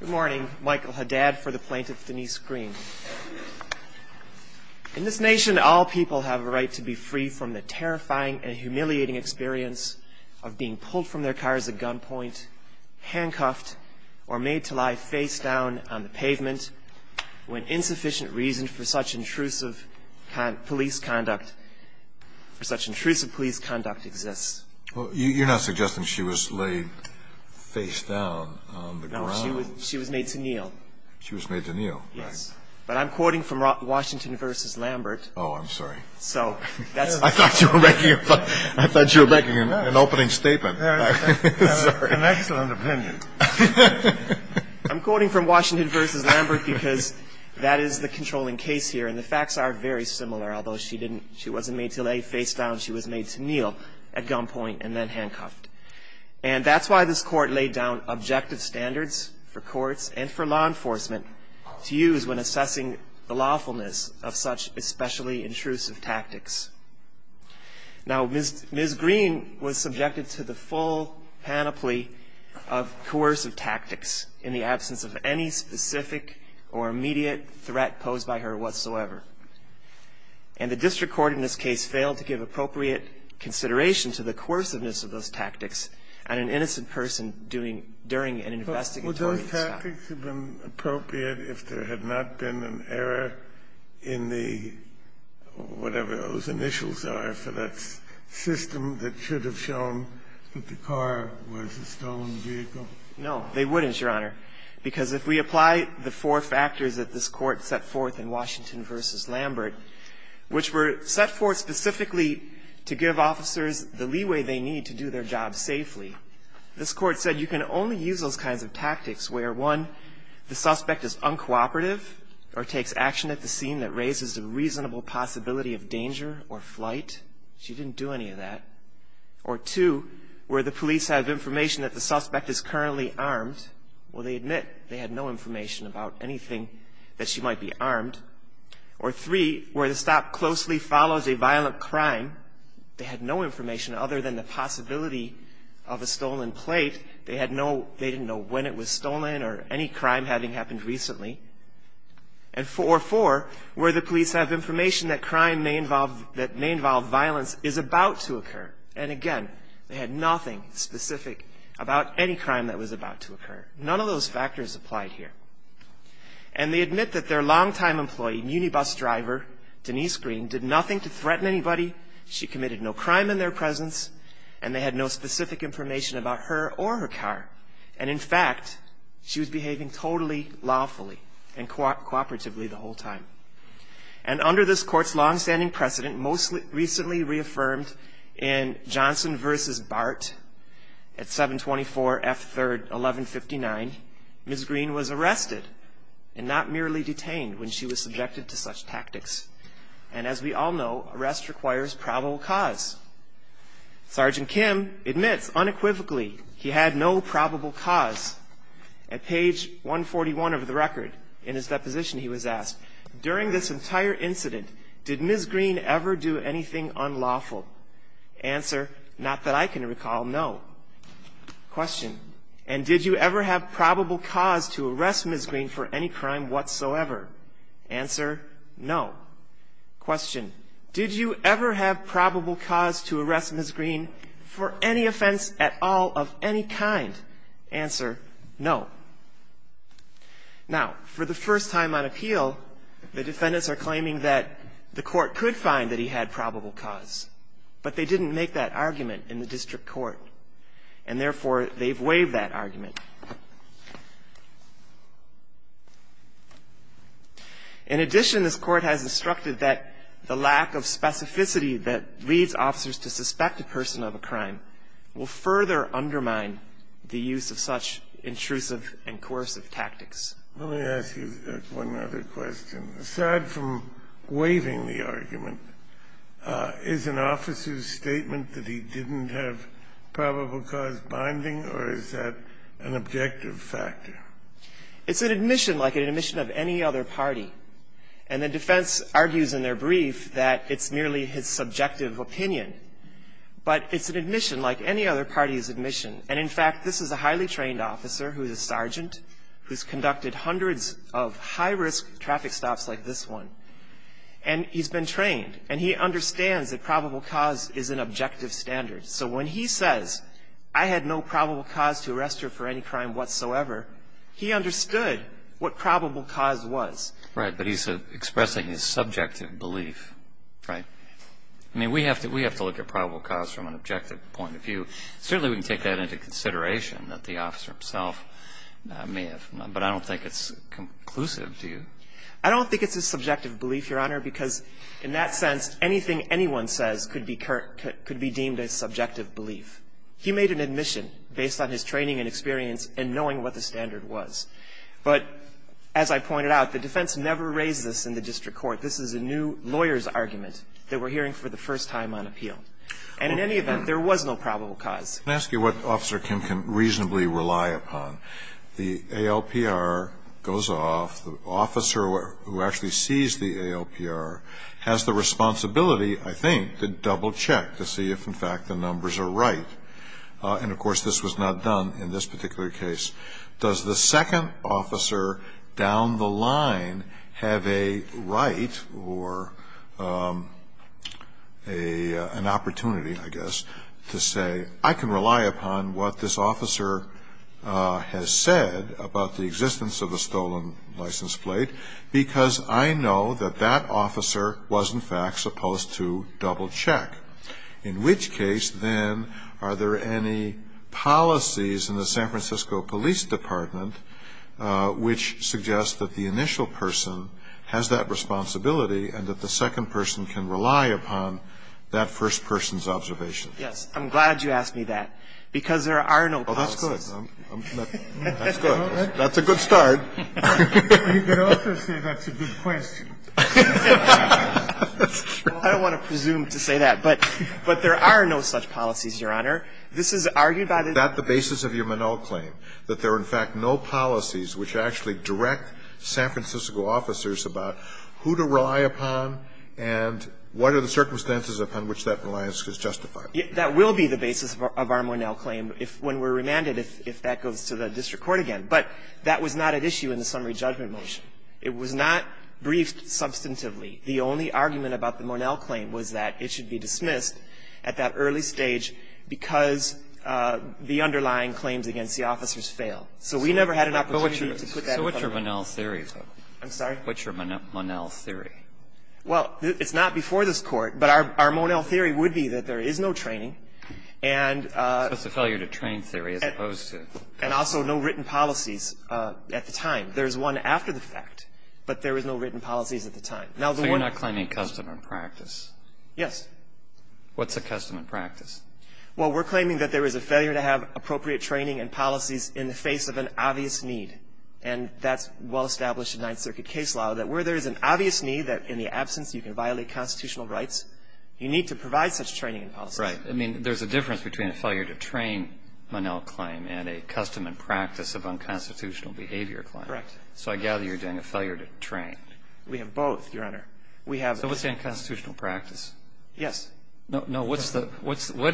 Good morning. Michael Haddad for the plaintiff, Denise Green. In this nation, all people have a right to be free from the terrifying and humiliating experience of being pulled from their car as a gunpoint, handcuffed, or made to lie face down on the pavement when insufficient reason for such intrusive police conduct exists. You're not suggesting she was laid face down on the ground? No, she was made to kneel. She was made to kneel. Yes, but I'm quoting from Washington v. Lambert. Oh, I'm sorry. I thought you were making an opening statement. An excellent opinion. I'm quoting from Washington v. Lambert because that is the controlling case here, and the facts are very similar. Although she wasn't made to lay face down, she was made to kneel at gunpoint and then handcuffed. And that's why this Court laid down objective standards for courts and for law enforcement to use when assessing the lawfulness of such especially intrusive tactics. Now, Ms. Green was subjected to the full panoply of coercive tactics in the absence of any specific or immediate threat posed by her whatsoever. And the district court in this case failed to give appropriate consideration to the coerciveness of those tactics on an innocent person during an investigatory stop. But would those tactics have been appropriate if there had not been an error in the whatever those initials are for that system that should have shown that the car was a stolen vehicle? No, they wouldn't, Your Honor, because if we apply the four factors that this Court set forth in Washington v. Lambert, which were set forth specifically to give officers the leeway they need to do their job safely, this Court said you can only use those kinds of tactics where, one, the suspect is uncooperative or takes action at the scene that raises a reasonable possibility of danger or flight. She didn't do any of that. Or, two, where the police have information that the suspect is currently armed, well, they admit they had no information about anything that she might be armed. Or, three, where the stop closely follows a violent crime, they had no information other than the possibility of a stolen plate. They didn't know when it was stolen or any crime having happened recently. Or, four, where the police have information that crime that may involve violence is about to occur. And, again, they had nothing specific about any crime that was about to occur. None of those factors applied here. And they admit that their longtime employee, munibus driver Denise Green, did nothing to threaten anybody. She committed no crime in their presence, and they had no specific information about her or her car. And, in fact, she was behaving totally lawfully and cooperatively the whole time. And under this Court's longstanding precedent, most recently reaffirmed in Johnson v. Bart at 724 F. 3rd, 1159, Ms. Green was arrested and not merely detained when she was subjected to such tactics. And, as we all know, arrest requires probable cause. Sergeant Kim admits unequivocally he had no probable cause. At page 141 of the record, in his deposition, he was asked, during this entire incident, did Ms. Green ever do anything unlawful? Answer, not that I can recall, no. Question, and did you ever have probable cause to arrest Ms. Green for any crime whatsoever? Answer, no. Question, did you ever have probable cause to arrest Ms. Green for any offense at all of any kind? Answer, no. Now, for the first time on appeal, the defendants are claiming that the court could find that he had probable cause, but they didn't make that argument in the district court, and, therefore, they've waived that argument. In addition, this Court has instructed that the lack of specificity that leads officers to suspect a person of a crime will further undermine the use of such intrusive and coercive tactics. Let me ask you one other question. Aside from waiving the argument, is an officer's statement that he didn't have probable cause binding, or is that an objective factor? It's an admission, like an admission of any other party. And the defense argues in their brief that it's merely his subjective opinion. But it's an admission, like any other party's admission. And, in fact, this is a highly trained officer who's a sergeant, who's conducted hundreds of high-risk traffic stops like this one, and he's been trained, and he understands that probable cause is an objective standard. So when he says, I had no probable cause to arrest her for any crime whatsoever, he understood what probable cause was. Right. But he's expressing his subjective belief. Right. I mean, we have to look at probable cause from an objective point of view. Certainly, we can take that into consideration, that the officer himself may have. But I don't think it's conclusive, do you? I don't think it's a subjective belief, Your Honor, because in that sense, anything anyone says could be deemed a subjective belief. He made an admission based on his training and experience and knowing what the standard was. But, as I pointed out, the defense never raised this in the district court. This is a new lawyer's argument that we're hearing for the first time on appeal. And in any event, there was no probable cause. Let me ask you what Officer Kim can reasonably rely upon. The ALPR goes off. The officer who actually sees the ALPR has the responsibility, I think, to double-check to see if, in fact, the numbers are right. And, of course, this was not done in this particular case. Does the second officer down the line have a right or an opportunity, I guess, to say, I can rely upon what this officer has said about the existence of a stolen license plate because I know that that officer was, in fact, supposed to double-check? In which case, then, are there any policies in the San Francisco Police Department which suggest that the initial person has that responsibility and that the second person can rely upon that first person's observation? Yes. I'm glad you asked me that because there are no policies. Oh, that's good. That's good. That's a good start. You could also say that's a good question. That's true. I don't want to presume to say that, but there are no such policies, Your Honor. This is argued by the district court. Is that the basis of your Monell claim, that there are, in fact, no policies which actually direct San Francisco officers about who to rely upon and what are the circumstances upon which that reliance is justified? That will be the basis of our Monell claim when we're remanded, if that goes to the district court again. But that was not at issue in the summary judgment motion. It was not briefed substantively. The only argument about the Monell claim was that it should be dismissed at that early stage because the underlying claims against the officers fail. So we never had an opportunity to put that in front of the court. So what's your Monell theory, though? I'm sorry? What's your Monell theory? Well, it's not before this Court, but our Monell theory would be that there is no training and the failure to train theory as opposed to. And also no written policies at the time. There's one after the fact, but there was no written policies at the time. So you're not claiming custom and practice? Yes. What's a custom and practice? Well, we're claiming that there is a failure to have appropriate training and policies in the face of an obvious need. And that's well established in Ninth Circuit case law, that where there is an obvious need that in the absence you can violate constitutional rights, you need to provide such training and policies. Right. I mean, there's a difference between a failure to train Monell claim and a custom and practice of unconstitutional behavior claim. Correct. So I gather you're doing a failure to train. We have both, Your Honor. So what's the unconstitutional practice? Yes. No, what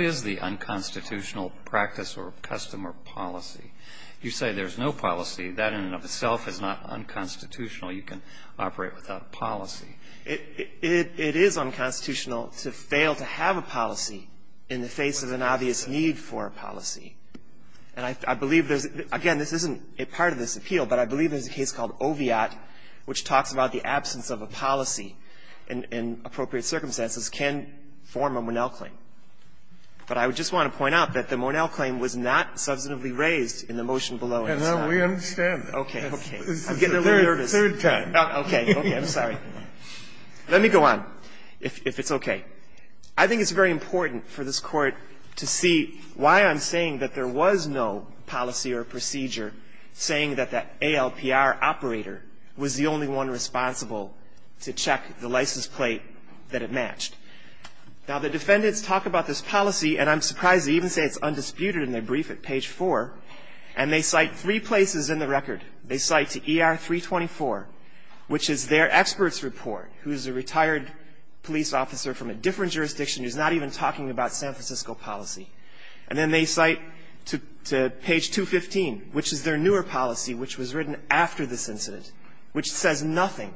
is the unconstitutional practice or custom or policy? You say there's no policy. That in and of itself is not unconstitutional. You can operate without a policy. It is unconstitutional to fail to have a policy in the face of an obvious need for a policy. And I believe there's, again, this isn't a part of this appeal, but I believe there's a case called Oviatt, which talks about the absence of a policy in appropriate circumstances can form a Monell claim. But I just want to point out that the Monell claim was not substantively raised in the motion below it. And we understand. Okay. I'm getting a little nervous. Third time. Okay. I'm sorry. Let me go on, if it's okay. I think it's very important for this Court to see why I'm saying that there was no policy or procedure saying that that ALPR operator was the only one responsible to check the license plate that it matched. Now, the defendants talk about this policy, and I'm surprised they even say it's undisputed in their brief at page 4. And they cite three places in the record. They cite to ER-324, which is their expert's report, who's a retired police officer from a different jurisdiction who's not even talking about San Francisco policy. And then they cite to page 215, which is their newer policy, which was written after this incident, which says nothing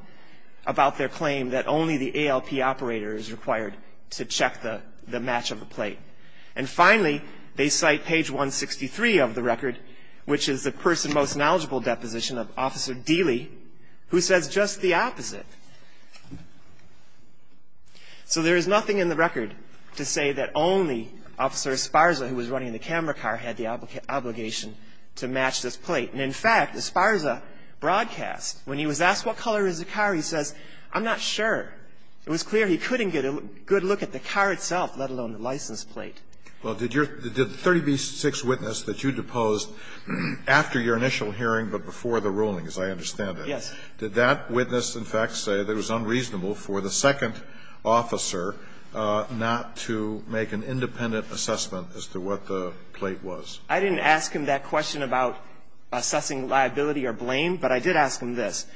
about their claim that only the ALP operator is required to check the match of the plate. And finally, they cite page 163 of the record, which is the person most knowledgeable deposition of Officer Dealey, who says just the opposite. So there is nothing in the record to say that only Officer Esparza, who was running the camera car, had the obligation to match this plate. And, in fact, Esparza broadcast. When he was asked what color is the car, he says, I'm not sure. It was clear he couldn't get a good look at the car itself, let alone the license plate. Well, did your 30b-6 witness that you deposed after your initial hearing but before the ruling, as I understand it? Did that witness, in fact, say it was unreasonable for the second officer not to make an independent assessment as to what the plate was? I didn't ask him that question about assessing liability or blame, but I did ask him this.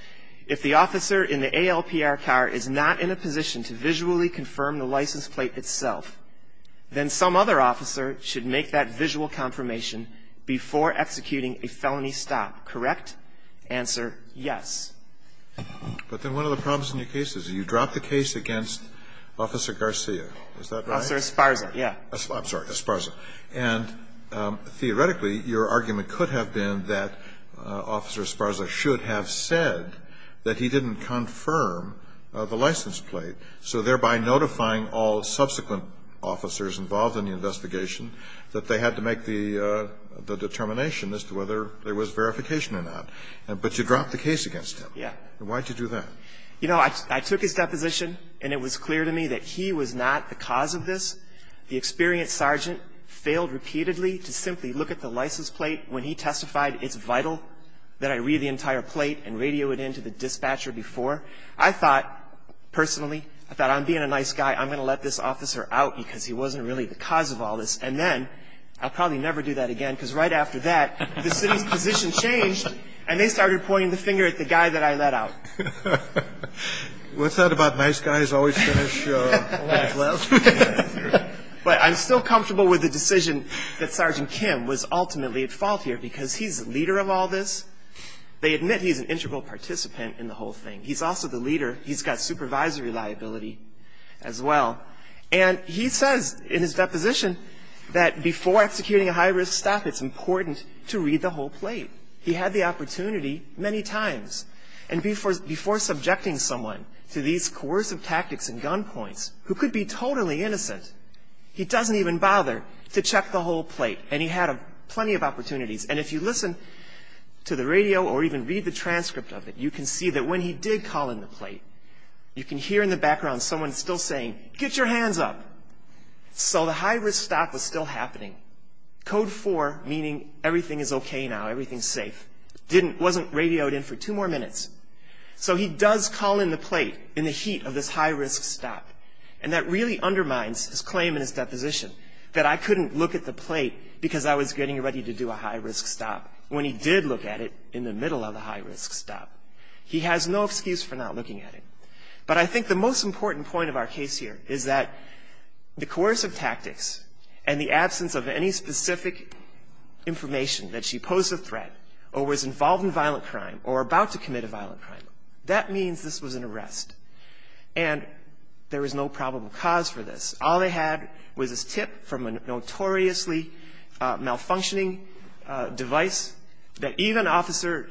If the officer in the ALPR car is not in a position to visually confirm the license plate itself, then some other officer should make that visual confirmation before executing a felony stop. Correct? Answer, yes. But then one of the problems in your case is you dropped the case against Officer Garcia. Is that right? Officer Esparza, yeah. I'm sorry, Esparza. And theoretically, your argument could have been that Officer Esparza should have said that he didn't confirm the license plate, so thereby notifying all subsequent officers involved in the investigation that they had to make the determination as to whether there was verification or not. But you dropped the case against him. Yeah. Why did you do that? You know, I took his deposition, and it was clear to me that he was not the cause of this. The experienced sergeant failed repeatedly to simply look at the license plate. When he testified, it's vital that I read the entire plate and radio it in to the dispatcher before. I thought, personally, I thought, I'm being a nice guy. I'm going to let this officer out because he wasn't really the cause of all this. And then, I'll probably never do that again because right after that, the city's position changed, and they started pointing the finger at the guy that I let out. What's that about nice guys always finish last? But I'm still comfortable with the decision that Sergeant Kim was ultimately at fault here because he's the leader of all this. They admit he's an integral participant in the whole thing. He's also the leader. He's got supervisory liability as well. And he says in his deposition that before executing a high-risk stop, it's important to read the whole plate. He had the opportunity many times. And before subjecting someone to these coercive tactics and gun points, who could be totally innocent, he doesn't even bother to check the whole plate. And he had plenty of opportunities. And if you listen to the radio or even read the transcript of it, you can see that when he did call in the plate, you can hear in the background someone still saying, get your hands up. So the high-risk stop was still happening. Code 4, meaning everything is okay now, everything's safe, wasn't radioed in for two more minutes. So he does call in the plate in the heat of this high-risk stop. And that really undermines his claim in his deposition that I couldn't look at the plate because I was getting ready to do a high-risk stop when he did look at it in the middle of the high-risk stop. He has no excuse for not looking at it. But I think the most important point of our case here is that the coercive tactics and the absence of any specific information that she posed a threat or was involved in violent crime or about to commit a violent crime, that means this was an arrest. And there was no probable cause for this. All they had was this tip from a notoriously malfunctioning device that even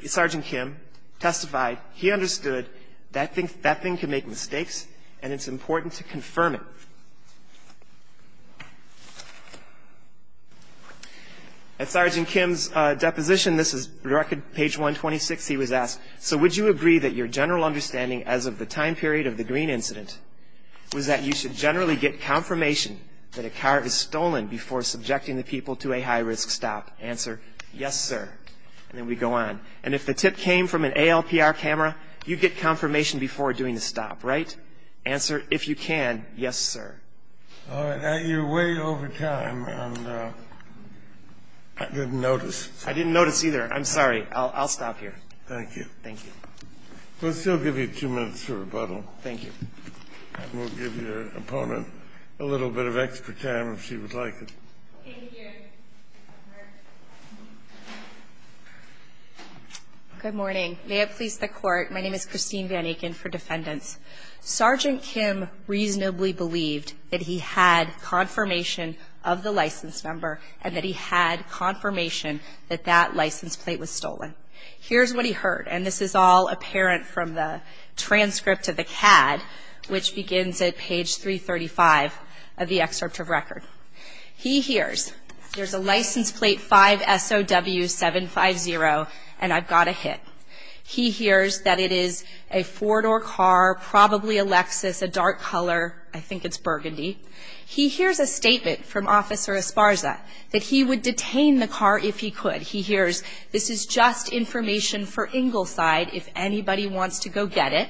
Sergeant Kim testified he understood that that thing can make mistakes and it's important to confirm it. At Sergeant Kim's deposition, this is record page 126, he was asked, so would you agree that your general understanding as of the time period of the Greene incident was that you should generally get confirmation that a car is stolen before subjecting the people to a high-risk stop? Answer, yes, sir. And then we go on. And if the tip came from an ALPR camera, you get confirmation before doing the stop, right? Answer, if you can, yes, sir. All right. You're way over time and I didn't notice. I didn't notice either. I'm sorry. I'll stop here. Thank you. Thank you. We'll still give you two minutes for rebuttal. Thank you. And we'll give your opponent a little bit of extra time if she would like it. Thank you. Good morning. May it please the court, my name is Christine Van Aken for defendants. Sergeant Kim reasonably believed that he had confirmation of the license number and that he had confirmation that that license plate was stolen. Here's what he heard, and this is all apparent from the transcript of the CAD, which begins at page 335 of the excerpt of record. He hears there's a license plate 5SOW750 and I've got a hit. He hears that it is a four-door car, probably a Lexus, a dark color, I think it's burgundy. He hears a statement from Officer Esparza that he would detain the car if he could. He hears this is just information for Ingleside if anybody wants to go get it,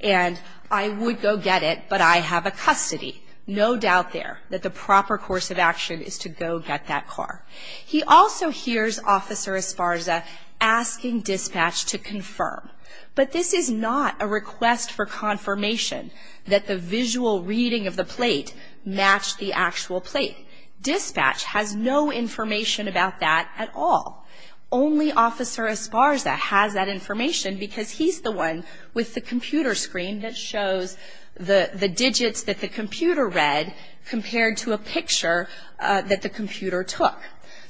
and I would go get it, but I have a custody. No doubt there that the proper course of action is to go get that car. He also hears Officer Esparza asking dispatch to confirm, but this is not a request for confirmation that the visual reading of the plate matched the actual plate. Dispatch has no information about that at all. Only Officer Esparza has that information because he's the one with the computer screen that shows the digits that the computer read compared to a picture that the computer took.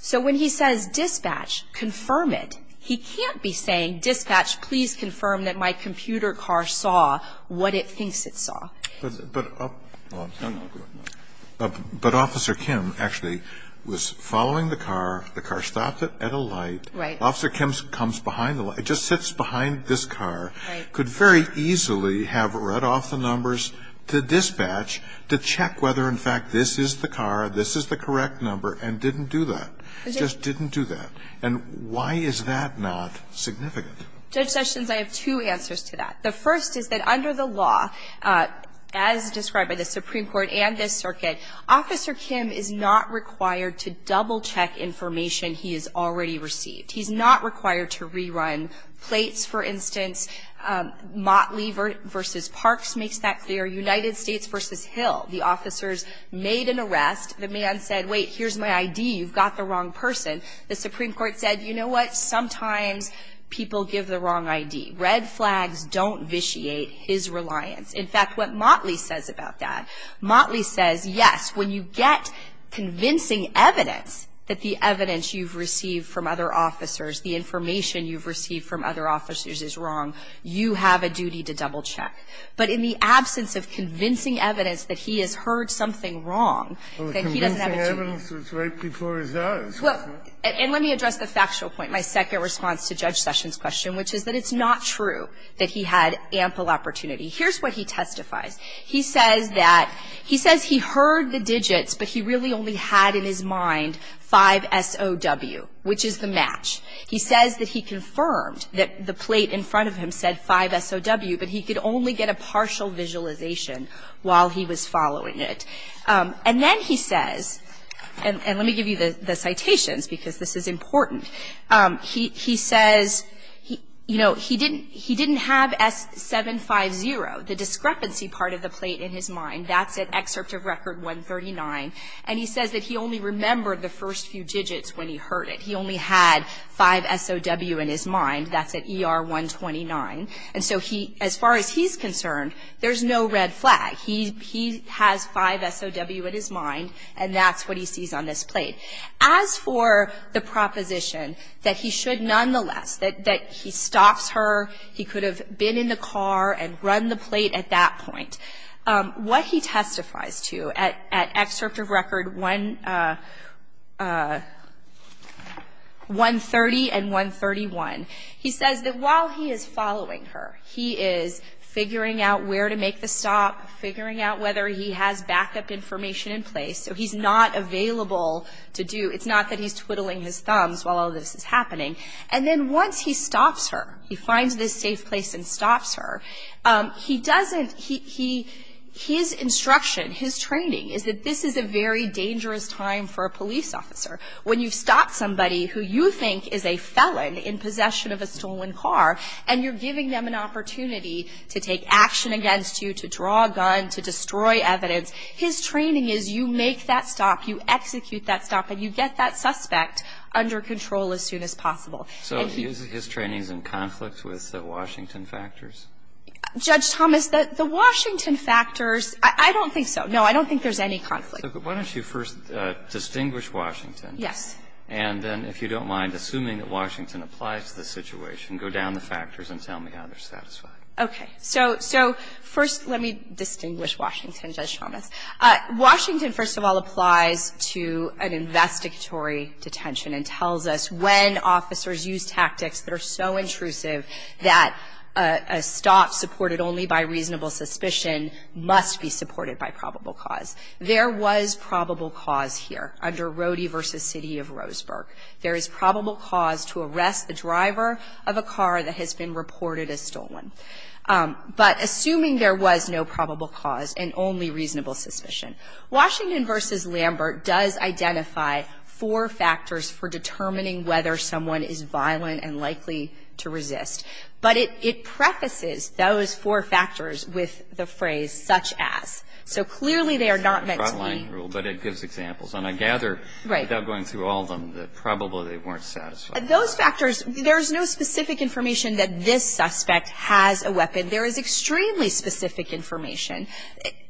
So when he says dispatch, confirm it, he can't be saying dispatch, please confirm that my computer car saw what it thinks it saw. But Officer Kim actually was following the car, the car stopped at a light. Right. Officer Kim comes behind the light. It just sits behind this car. Right. He could very easily have read off the numbers to dispatch to check whether, in fact, this is the car, this is the correct number, and didn't do that. Just didn't do that. And why is that not significant? Judge Sessions, I have two answers to that. The first is that under the law, as described by the Supreme Court and this circuit, Officer Kim is not required to double-check information he has already received. He's not required to rerun plates, for instance. Motley v. Parks makes that clear. United States v. Hill, the officers made an arrest. The man said, wait, here's my ID. You've got the wrong person. The Supreme Court said, you know what, sometimes people give the wrong ID. Red flags don't vitiate his reliance. In fact, what Motley says about that, Motley says, yes, when you get convincing evidence that the evidence you've received from other officers, the information you've received from other officers is wrong, you have a duty to double-check. But in the absence of convincing evidence that he has heard something wrong, that he doesn't have a duty to double-check. And let me address the factual point, my second response to Judge Sessions' question, which is that it's not true that he had ample opportunity. Here's what he testifies. He says that he heard the digits, but he really only had in his mind 5SOW, which is the match. He says that he confirmed that the plate in front of him said 5SOW, but he could only get a partial visualization while he was following it. And then he says, and let me give you the citations, because this is important. He says, you know, he didn't have S750, the discrepancy part of the plate, in his mind. That's at Excerpt of Record 139. And he says that he only remembered the first few digits when he heard it. He only had 5SOW in his mind. That's at ER 129. And so he, as far as he's concerned, there's no red flag. He has 5SOW in his mind, and that's what he sees on this plate. As for the proposition that he should nonetheless, that he stops her, he could have been in the car and run the plate at that point, what he testifies to at Excerpt of Record 130 and 131, he says that while he is following her, he is figuring out where to make the stop, so he's not available to do, it's not that he's twiddling his thumbs while all this is happening. And then once he stops her, he finds this safe place and stops her, he doesn't, his instruction, his training, is that this is a very dangerous time for a police officer. When you've stopped somebody who you think is a felon in possession of a stolen car, and you're giving them an opportunity to take action against you, to draw a gun, to destroy evidence, his training is you make that stop, you execute that stop, and you get that suspect under control as soon as possible. And he uses his trainings in conflict with the Washington factors. Judge Thomas, the Washington factors, I don't think so. No, I don't think there's any conflict. Why don't you first distinguish Washington. Yes. And then if you don't mind, assuming that Washington applies to the situation, go down the factors and tell me how they're satisfied. Okay. So first let me distinguish Washington, Judge Thomas. Washington, first of all, applies to an investigatory detention and tells us when officers use tactics that are so intrusive that a stop supported only by reasonable suspicion must be supported by probable cause. There was probable cause here under Rody v. City of Roseburg. There is probable cause to arrest a driver of a car that has been reported as stolen. But assuming there was no probable cause and only reasonable suspicion. Washington v. Lambert does identify four factors for determining whether someone is violent and likely to resist. But it prefaces those four factors with the phrase such as. So clearly they are not meant to be. But it gives examples. And I gather without going through all of them that probably they weren't satisfied. Those factors, there's no specific information that this suspect has a weapon. There is extremely specific information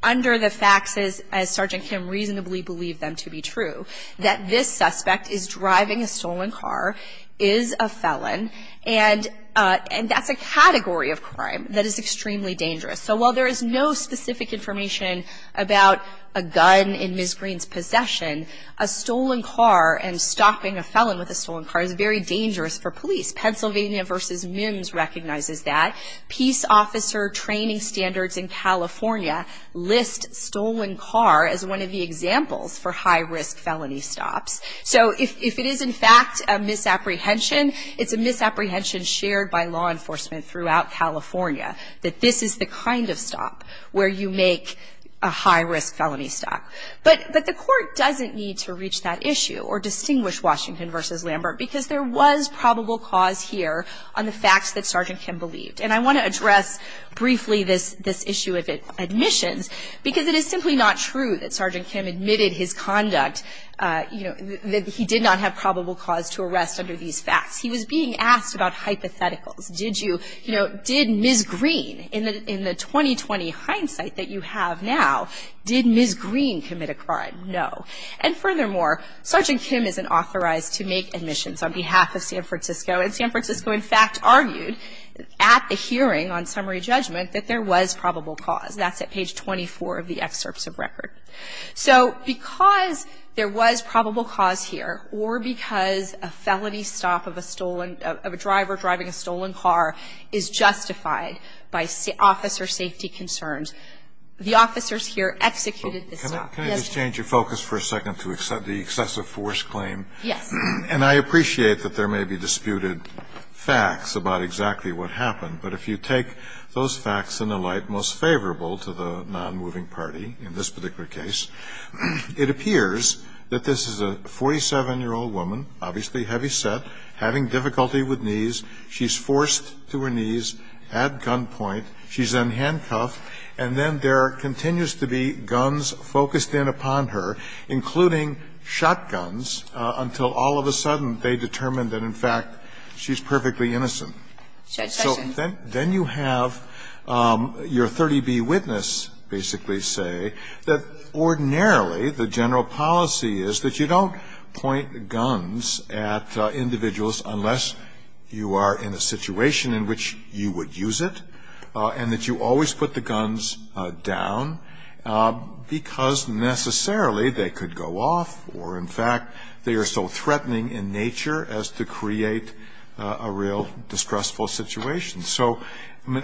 under the facts, as Sergeant Kim reasonably believed them to be true, that this suspect is driving a stolen car, is a felon, and that's a category of crime that is extremely dangerous. So while there is no specific information about a gun in Ms. Green's possession, a stolen car and stopping a felon with a stolen car is very dangerous for police. Pennsylvania v. Mims recognizes that. Peace officer training standards in California list stolen car as one of the examples for high-risk felony stops. So if it is in fact a misapprehension, it's a misapprehension shared by law enforcement throughout California that this is the kind of stop where you make a high-risk felony stop. But the Court doesn't need to reach that issue or distinguish Washington v. Lambert because there was probable cause here on the facts that Sergeant Kim believed. And I want to address briefly this issue of admissions because it is simply not true that Sergeant Kim admitted his conduct, you know, that he did not have probable cause to arrest under these facts. He was being asked about hypotheticals. Did you, you know, did Ms. Green, in the 2020 hindsight that you have now, did Ms. Green commit a crime? No. And furthermore, Sergeant Kim isn't authorized to make admissions on behalf of San Francisco. And San Francisco, in fact, argued at the hearing on summary judgment that there was probable cause. That's at page 24 of the excerpts of record. So because there was probable cause here or because a felony stop of a stolen, of a driver driving a stolen car is justified by officer safety concerns, the officers here executed the stop. Can I just change your focus for a second to the excessive force claim? Yes. And I appreciate that there may be disputed facts about exactly what happened. But if you take those facts in the light most favorable to the nonmoving party in this particular case, it appears that this is a 47-year-old woman, obviously heavyset, having difficulty with knees. She's forced to her knees at gunpoint. She's unhandcuffed. And then there continues to be guns focused in upon her, including shotguns, until all of a sudden they determine that, in fact, she's perfectly innocent. So then you have your 30B witness basically say that ordinarily the general policy is that you don't point guns at individuals unless you are in a situation in which you would use it and that you always put the guns down because necessarily they could go off or, in fact, they are so threatening in nature as to create a real distressful situation. So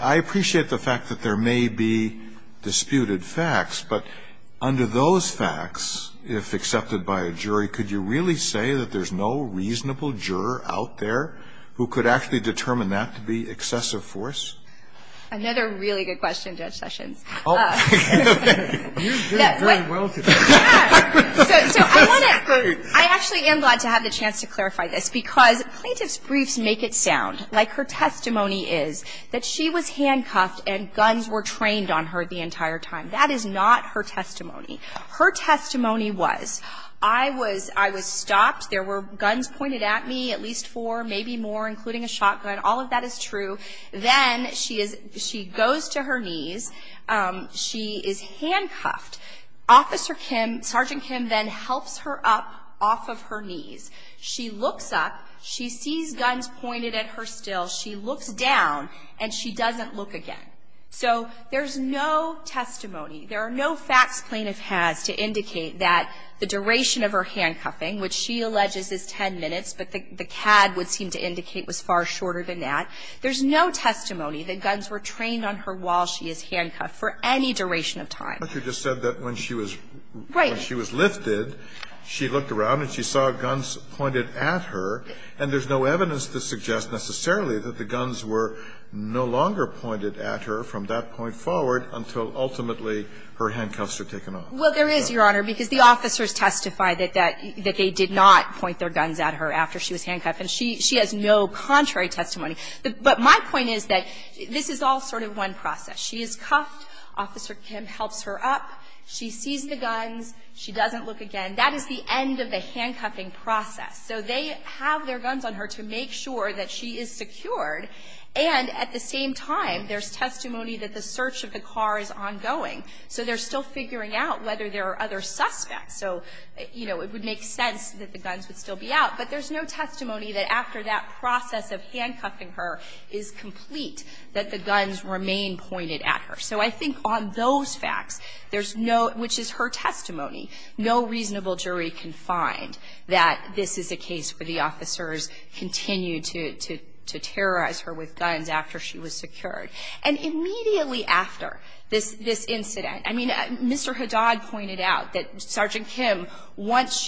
I appreciate the fact that there may be disputed facts, but under those facts, if accepted by a jury, could you really say that there's no reasonable juror out there who could actually determine that to be excessive force? Another really good question, Judge Sessions. You did very well today. Yes. So I want to – I actually am glad to have the chance to clarify this because plaintiff's briefs make it sound like her testimony is that she was handcuffed and guns were trained on her the entire time. That is not her testimony. Her testimony was, I was stopped. There were guns pointed at me, at least four, maybe more, including a shotgun. All of that is true. Then she goes to her knees. She is handcuffed. Officer Kim, Sergeant Kim then helps her up off of her knees. She looks up. She sees guns pointed at her still. She looks down, and she doesn't look again. So there's no testimony. There are no facts plaintiff has to indicate that the duration of her handcuffing, which she alleges is 10 minutes, but the CAD would seem to indicate was far shorter than that, there's no testimony that guns were trained on her while she is handcuffed for any duration of time. But you just said that when she was lifted, she looked around and she saw guns pointed at her, and there's no evidence to suggest necessarily that the guns were no longer pointed at her from that point forward until ultimately her handcuffs were taken off. Well, there is, Your Honor, because the officers testified that they did not point their guns at her after she was handcuffed. And she has no contrary testimony. But my point is that this is all sort of one process. She is cuffed. Officer Kim helps her up. She sees the guns. She doesn't look again. That is the end of the handcuffing process. So they have their guns on her to make sure that she is secured. And at the same time, there's testimony that the search of the car is ongoing. So they're still figuring out whether there are other suspects. So, you know, it would make sense that the guns would still be out. But there's no testimony that after that process of handcuffing her is complete that the guns remain pointed at her. So I think on those facts, there's no ‑‑ which is her testimony, no reasonable jury can find that this is a case where the officers continued to terrorize her with guns after she was secured. And immediately after this incident, I mean, Mr. Haddad pointed out that Sergeant Kim, once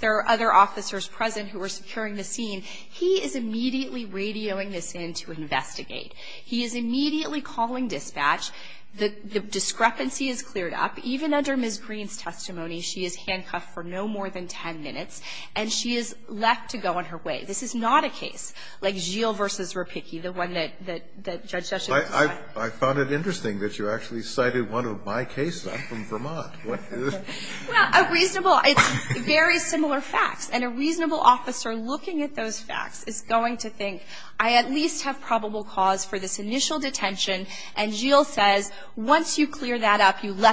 there are other officers present who are securing the scene, he is immediately radioing this in to investigate. He is immediately calling dispatch. The discrepancy is cleared up. So even under Ms. Green's testimony, she is handcuffed for no more than 10 minutes, and she is left to go on her way. This is not a case like Gilles v. Rapicci, the one that Judge ‑‑ I found it interesting that you actually cited one of my cases. I'm from Vermont. Well, a reasonable ‑‑ it's very similar facts. And a reasonable officer looking at those facts is going to think, I at least have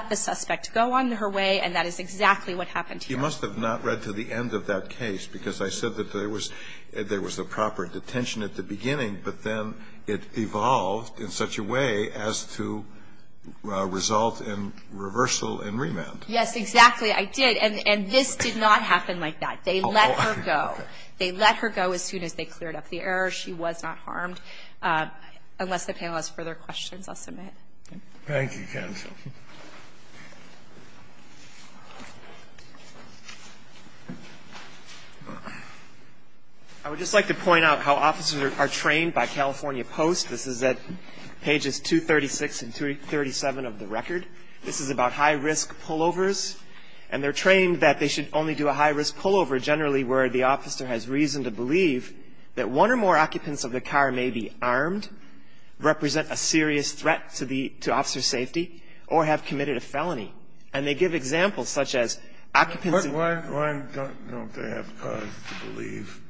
a suspect to go on her way, and that is exactly what happened here. You must have not read to the end of that case, because I said that there was a proper detention at the beginning, but then it evolved in such a way as to result in reversal and remand. Yes, exactly. I did. And this did not happen like that. They let her go. They let her go as soon as they cleared up the error. She was not harmed. Unless the panel has further questions, I'll submit. Thank you, counsel. I would just like to point out how officers are trained by California Post. This is at pages 236 and 237 of the record. This is about high‑risk pullovers. And they're trained that they should only do a high‑risk pullover generally where the officer has reason to believe that one or more occupants of the car may be armed, represent a serious threat to the ‑‑ to officer's safety, or have committed a felony. And they give examples such as occupants ‑‑ But why don't they have cause to believe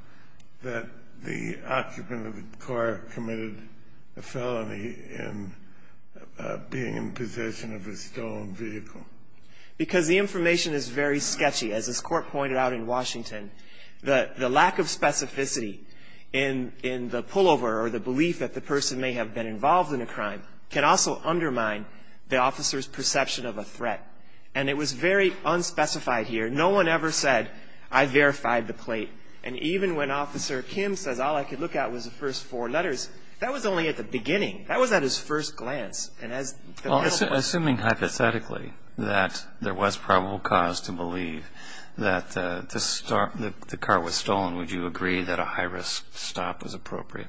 that the occupant of the car committed a felony in being in possession of a stolen vehicle? Because the information is very sketchy. As this Court pointed out in Washington, the lack of specificity in the pullover or the belief that the person may have been involved in a crime can also undermine the officer's perception of a threat. And it was very unspecified here. No one ever said, I verified the plate. And even when Officer Kim says all I could look at was the first four letters, that was only at the beginning. That was at his first glance. Assuming hypothetically that there was probable cause to believe that the car was stolen, would you agree that a high‑risk stop was appropriate?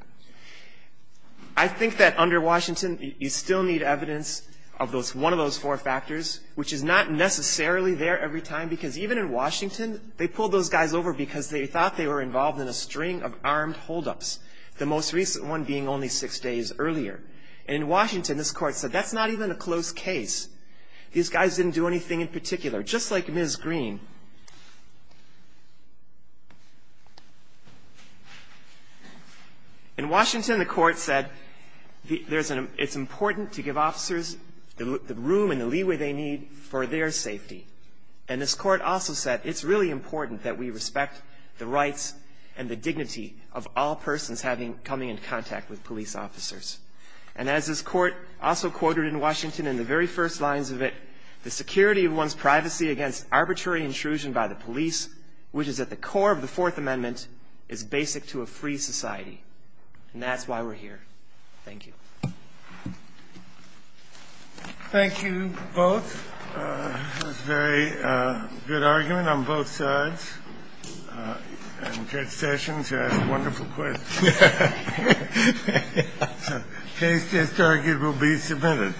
I think that under Washington, you still need evidence of one of those four factors, which is not necessarily there every time, because even in Washington, they pulled those guys over because they thought they were involved in a string of armed holdups, the most recent one being only six days earlier. In Washington, this Court said that's not even a close case. These guys didn't do anything in particular. Just like Ms. Green. In Washington, the Court said it's important to give officers the room and the leeway they need for their safety. And this Court also said it's really important that we respect the rights and the dignity of all persons coming in contact with police officers. And as this Court also quoted in Washington in the very first lines of it, the security of one's privacy against arbitrary intrusion by the police, which is at the core of the Fourth Amendment, is basic to a free society. And that's why we're here. Thank you. Thank you both. That was a very good argument on both sides. And Judge Sessions asked wonderful questions. Case 10-4 will be submitted.